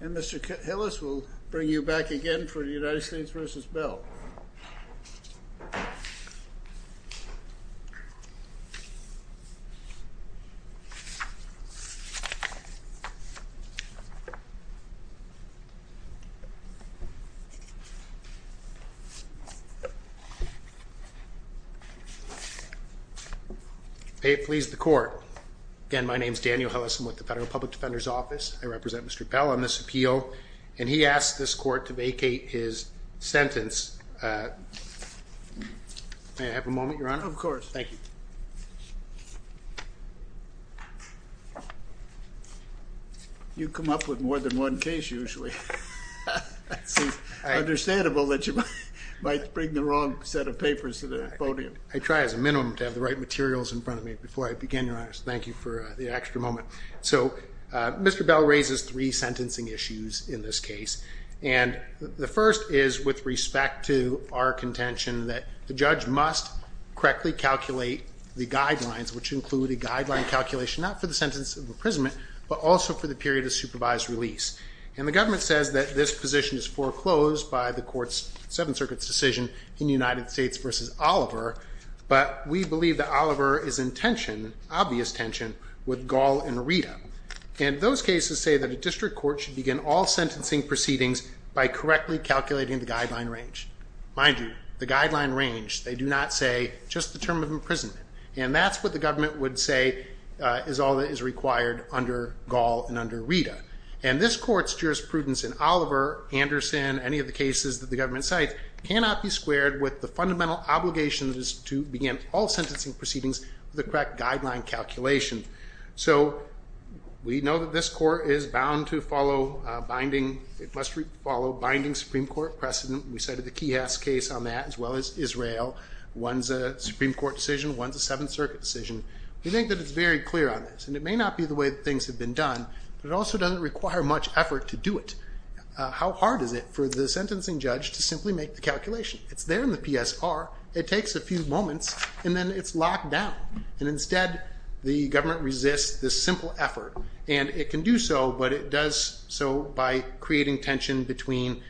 And Mr. Hillis will bring you back again for the United States v. Bell. May it please the court. Again, my name is Daniel Hillis. I'm with the Federal Public Defender's Office. I represent Mr. Bell on this appeal. And he asked this court to vacate his sentence. May I have a moment, your honor? Of course. Thank you. You come up with more than one case usually. It's understandable that you might bring the wrong set of papers to the podium. I try as a minimum to have the right materials in front of me. Before I begin, your honors, thank you for the extra moment. So Mr. Bell raises three sentencing issues in this case. And the first is with respect to our contention that the judge must correctly calculate the guidelines, which include a guideline calculation not for the sentence of imprisonment, but also for the period of supervised release. And the government says that this position is foreclosed by the court's Seventh Circuit's decision in United obvious tension with Gall and Rita. And those cases say that a district court should begin all sentencing proceedings by correctly calculating the guideline range. Mind you, the guideline range, they do not say just the term of imprisonment. And that's what the government would say is all that is required under Gall and under Rita. And this court's jurisprudence in Oliver, Anderson, any of the cases that the government cites, cannot be squared with the fundamental obligation that is to begin all sentencing proceedings with the correct guideline calculation. So we know that this court is bound to follow binding, it must follow binding Supreme Court precedent. We cited the Kihas case on that, as well as Israel. One's a Supreme Court decision, one's a Seventh Circuit decision. We think that it's very clear on this. And it may not be the way that things have been done, but it also doesn't require much effort to do it. How hard is it for the sentencing judge to simply make the calculation? It's there in the PSR, it takes a few moments, and then it's locked down. And instead, the government resists this simple effort. And it can do so, but it does so by creating tension between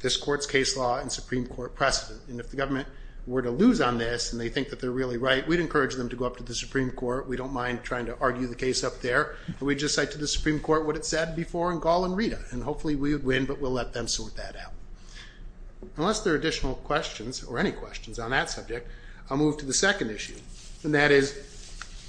this court's case law and Supreme Court precedent. And if the government were to lose on this and they think that they're really right, we'd encourage them to go up to the Supreme Court. We don't mind trying to argue the case up there. We just cite to the Supreme Court what it said before in Gall and Rita. And hopefully we would win, but we'll let them or any questions on that subject. I'll move to the second issue. And that is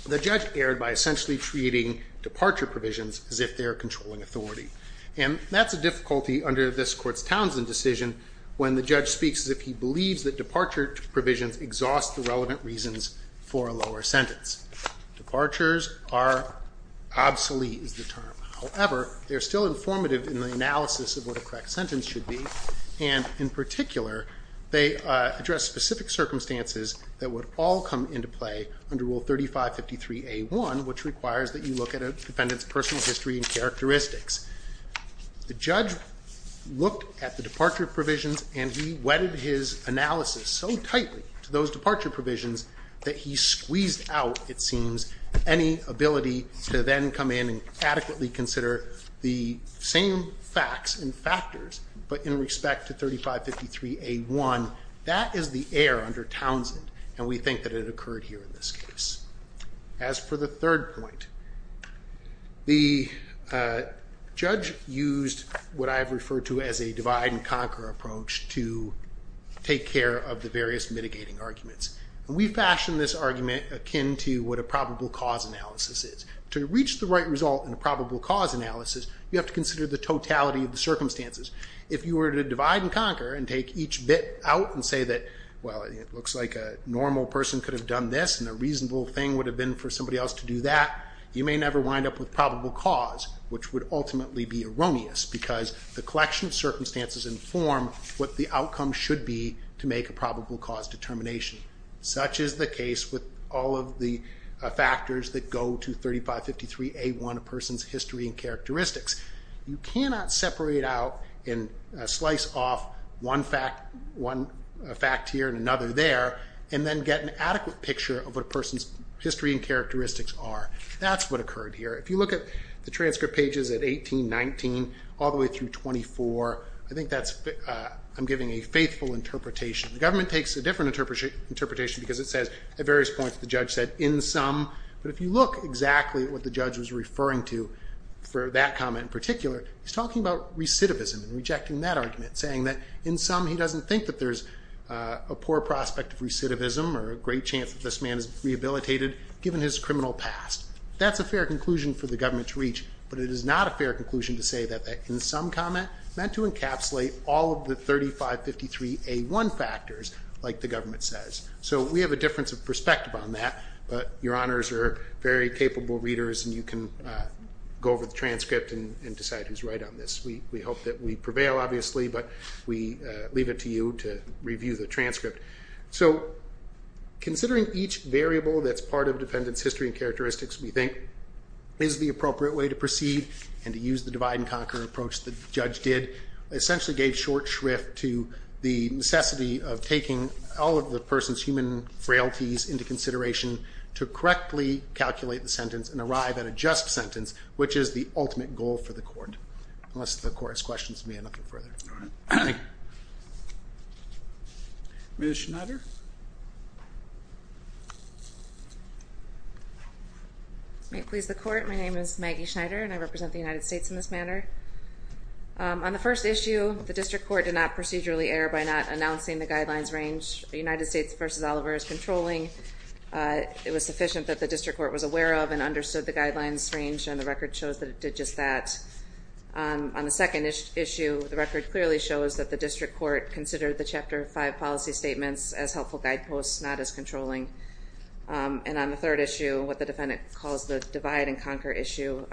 the judge erred by essentially creating departure provisions as if they're controlling authority. And that's a difficulty under this court's Townsend decision when the judge speaks as if he believes that departure provisions exhaust the relevant reasons for a lower sentence. Departures are obsolete is the term. However, they're still informative in the analysis of what a correct sentence should be. And in particular, they address specific circumstances that would all come into play under Rule 3553A1, which requires that you look at a defendant's personal history and characteristics. The judge looked at the departure provisions, and he wedded his analysis so tightly to those departure provisions that he squeezed out, it seems, any ability to then come in and adequately consider the same facts and factors, but in respect to 3553A1. That is the error under Townsend, and we think that it occurred here in this case. As for the third point, the judge used what I have referred to as a divide-and-conquer approach to take care of the various mitigating arguments. And we fashion this argument akin to what a probable cause analysis is. To reach the right result in a probable cause analysis, you have to consider the totality of the circumstances. If you were to divide and conquer and take each bit out and say that, well, it looks like a normal person could have done this, and a reasonable thing would have been for somebody else to do that, you may never wind up with probable cause, which would ultimately be erroneous because the collection of circumstances inform what the outcome should be to make a probable cause determination. Such is the case with all of the factors that go to 3553A1, a person's history and characteristics. You cannot separate out and slice off one fact here and another there, and then get an adequate picture of what a person's history and characteristics are. That's what occurred here. If you look at the transcript pages at 18, 19, all the I'm giving a faithful interpretation. The government takes a different interpretation because it says at various points the judge said, in sum. But if you look exactly at what the judge was referring to for that comment in particular, he's talking about recidivism and rejecting that argument, saying that in sum he doesn't think that there's a poor prospect of recidivism or a great chance that this man is rehabilitated given his criminal past. That's a fair conclusion for the government to reach, but it is not a fair conclusion to say that in sum comment meant to encapsulate all of the 3553A1 factors like the government says. So we have a difference of perspective on that, but your honors are very capable readers and you can go over the transcript and decide who's right on this. We hope that we prevail, obviously, but we leave it to you to review the transcript. So considering each variable that's part of a defendant's history and characteristics, we think is the appropriate way to proceed and to use the divide and conquer approach the judge did. It essentially gave short shrift to the necessity of taking all of the person's human frailties into consideration to correctly calculate the sentence and arrive at a just sentence, which is the ultimate goal for the court. Unless the court has questions, we have nothing further. All right. Ms. Schneider? May it please the court, my name is Maggie Schneider and I represent the United States in this manner. On the first issue, the district court did not procedurally err by not announcing the guidelines range the United States v. Oliver is controlling. It was sufficient that the district court was aware of and understood the guidelines range and the record shows that it did just that. On the second issue, the record clearly shows that the district court considered the Chapter 5 policy statements as helpful guideposts, not as controlling. And on the third issue, what the defendant calls the divide and conquer issue,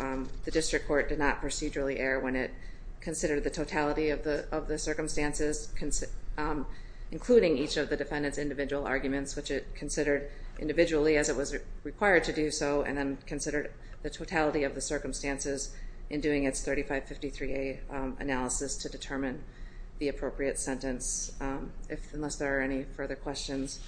the district court did not procedurally err when it considered the totality of the circumstances, including each of the defendant's individual arguments, which it considered individually as it was its 3553A analysis to determine the appropriate sentence. Unless there are any further questions,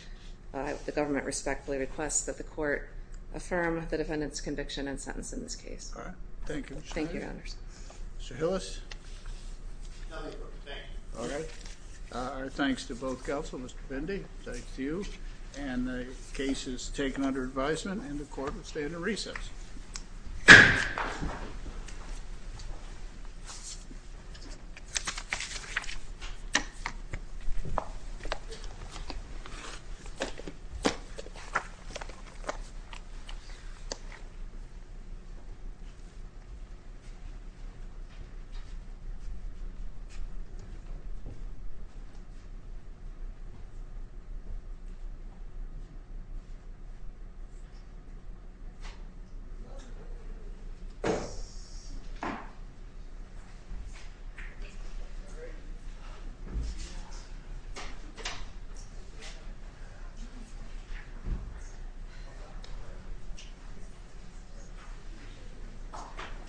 the government respectfully requests that the court affirm the defendant's conviction and sentence in this case. All right. Thank you, Ms. Schneider. Thank you, Your Honors. Mr. Hillis? Nothing for protection. All right. Our thanks to both counsel, Mr. Bindi, thanks to you, and the case is taken under advisement and the court will stay in the recess. Thank you.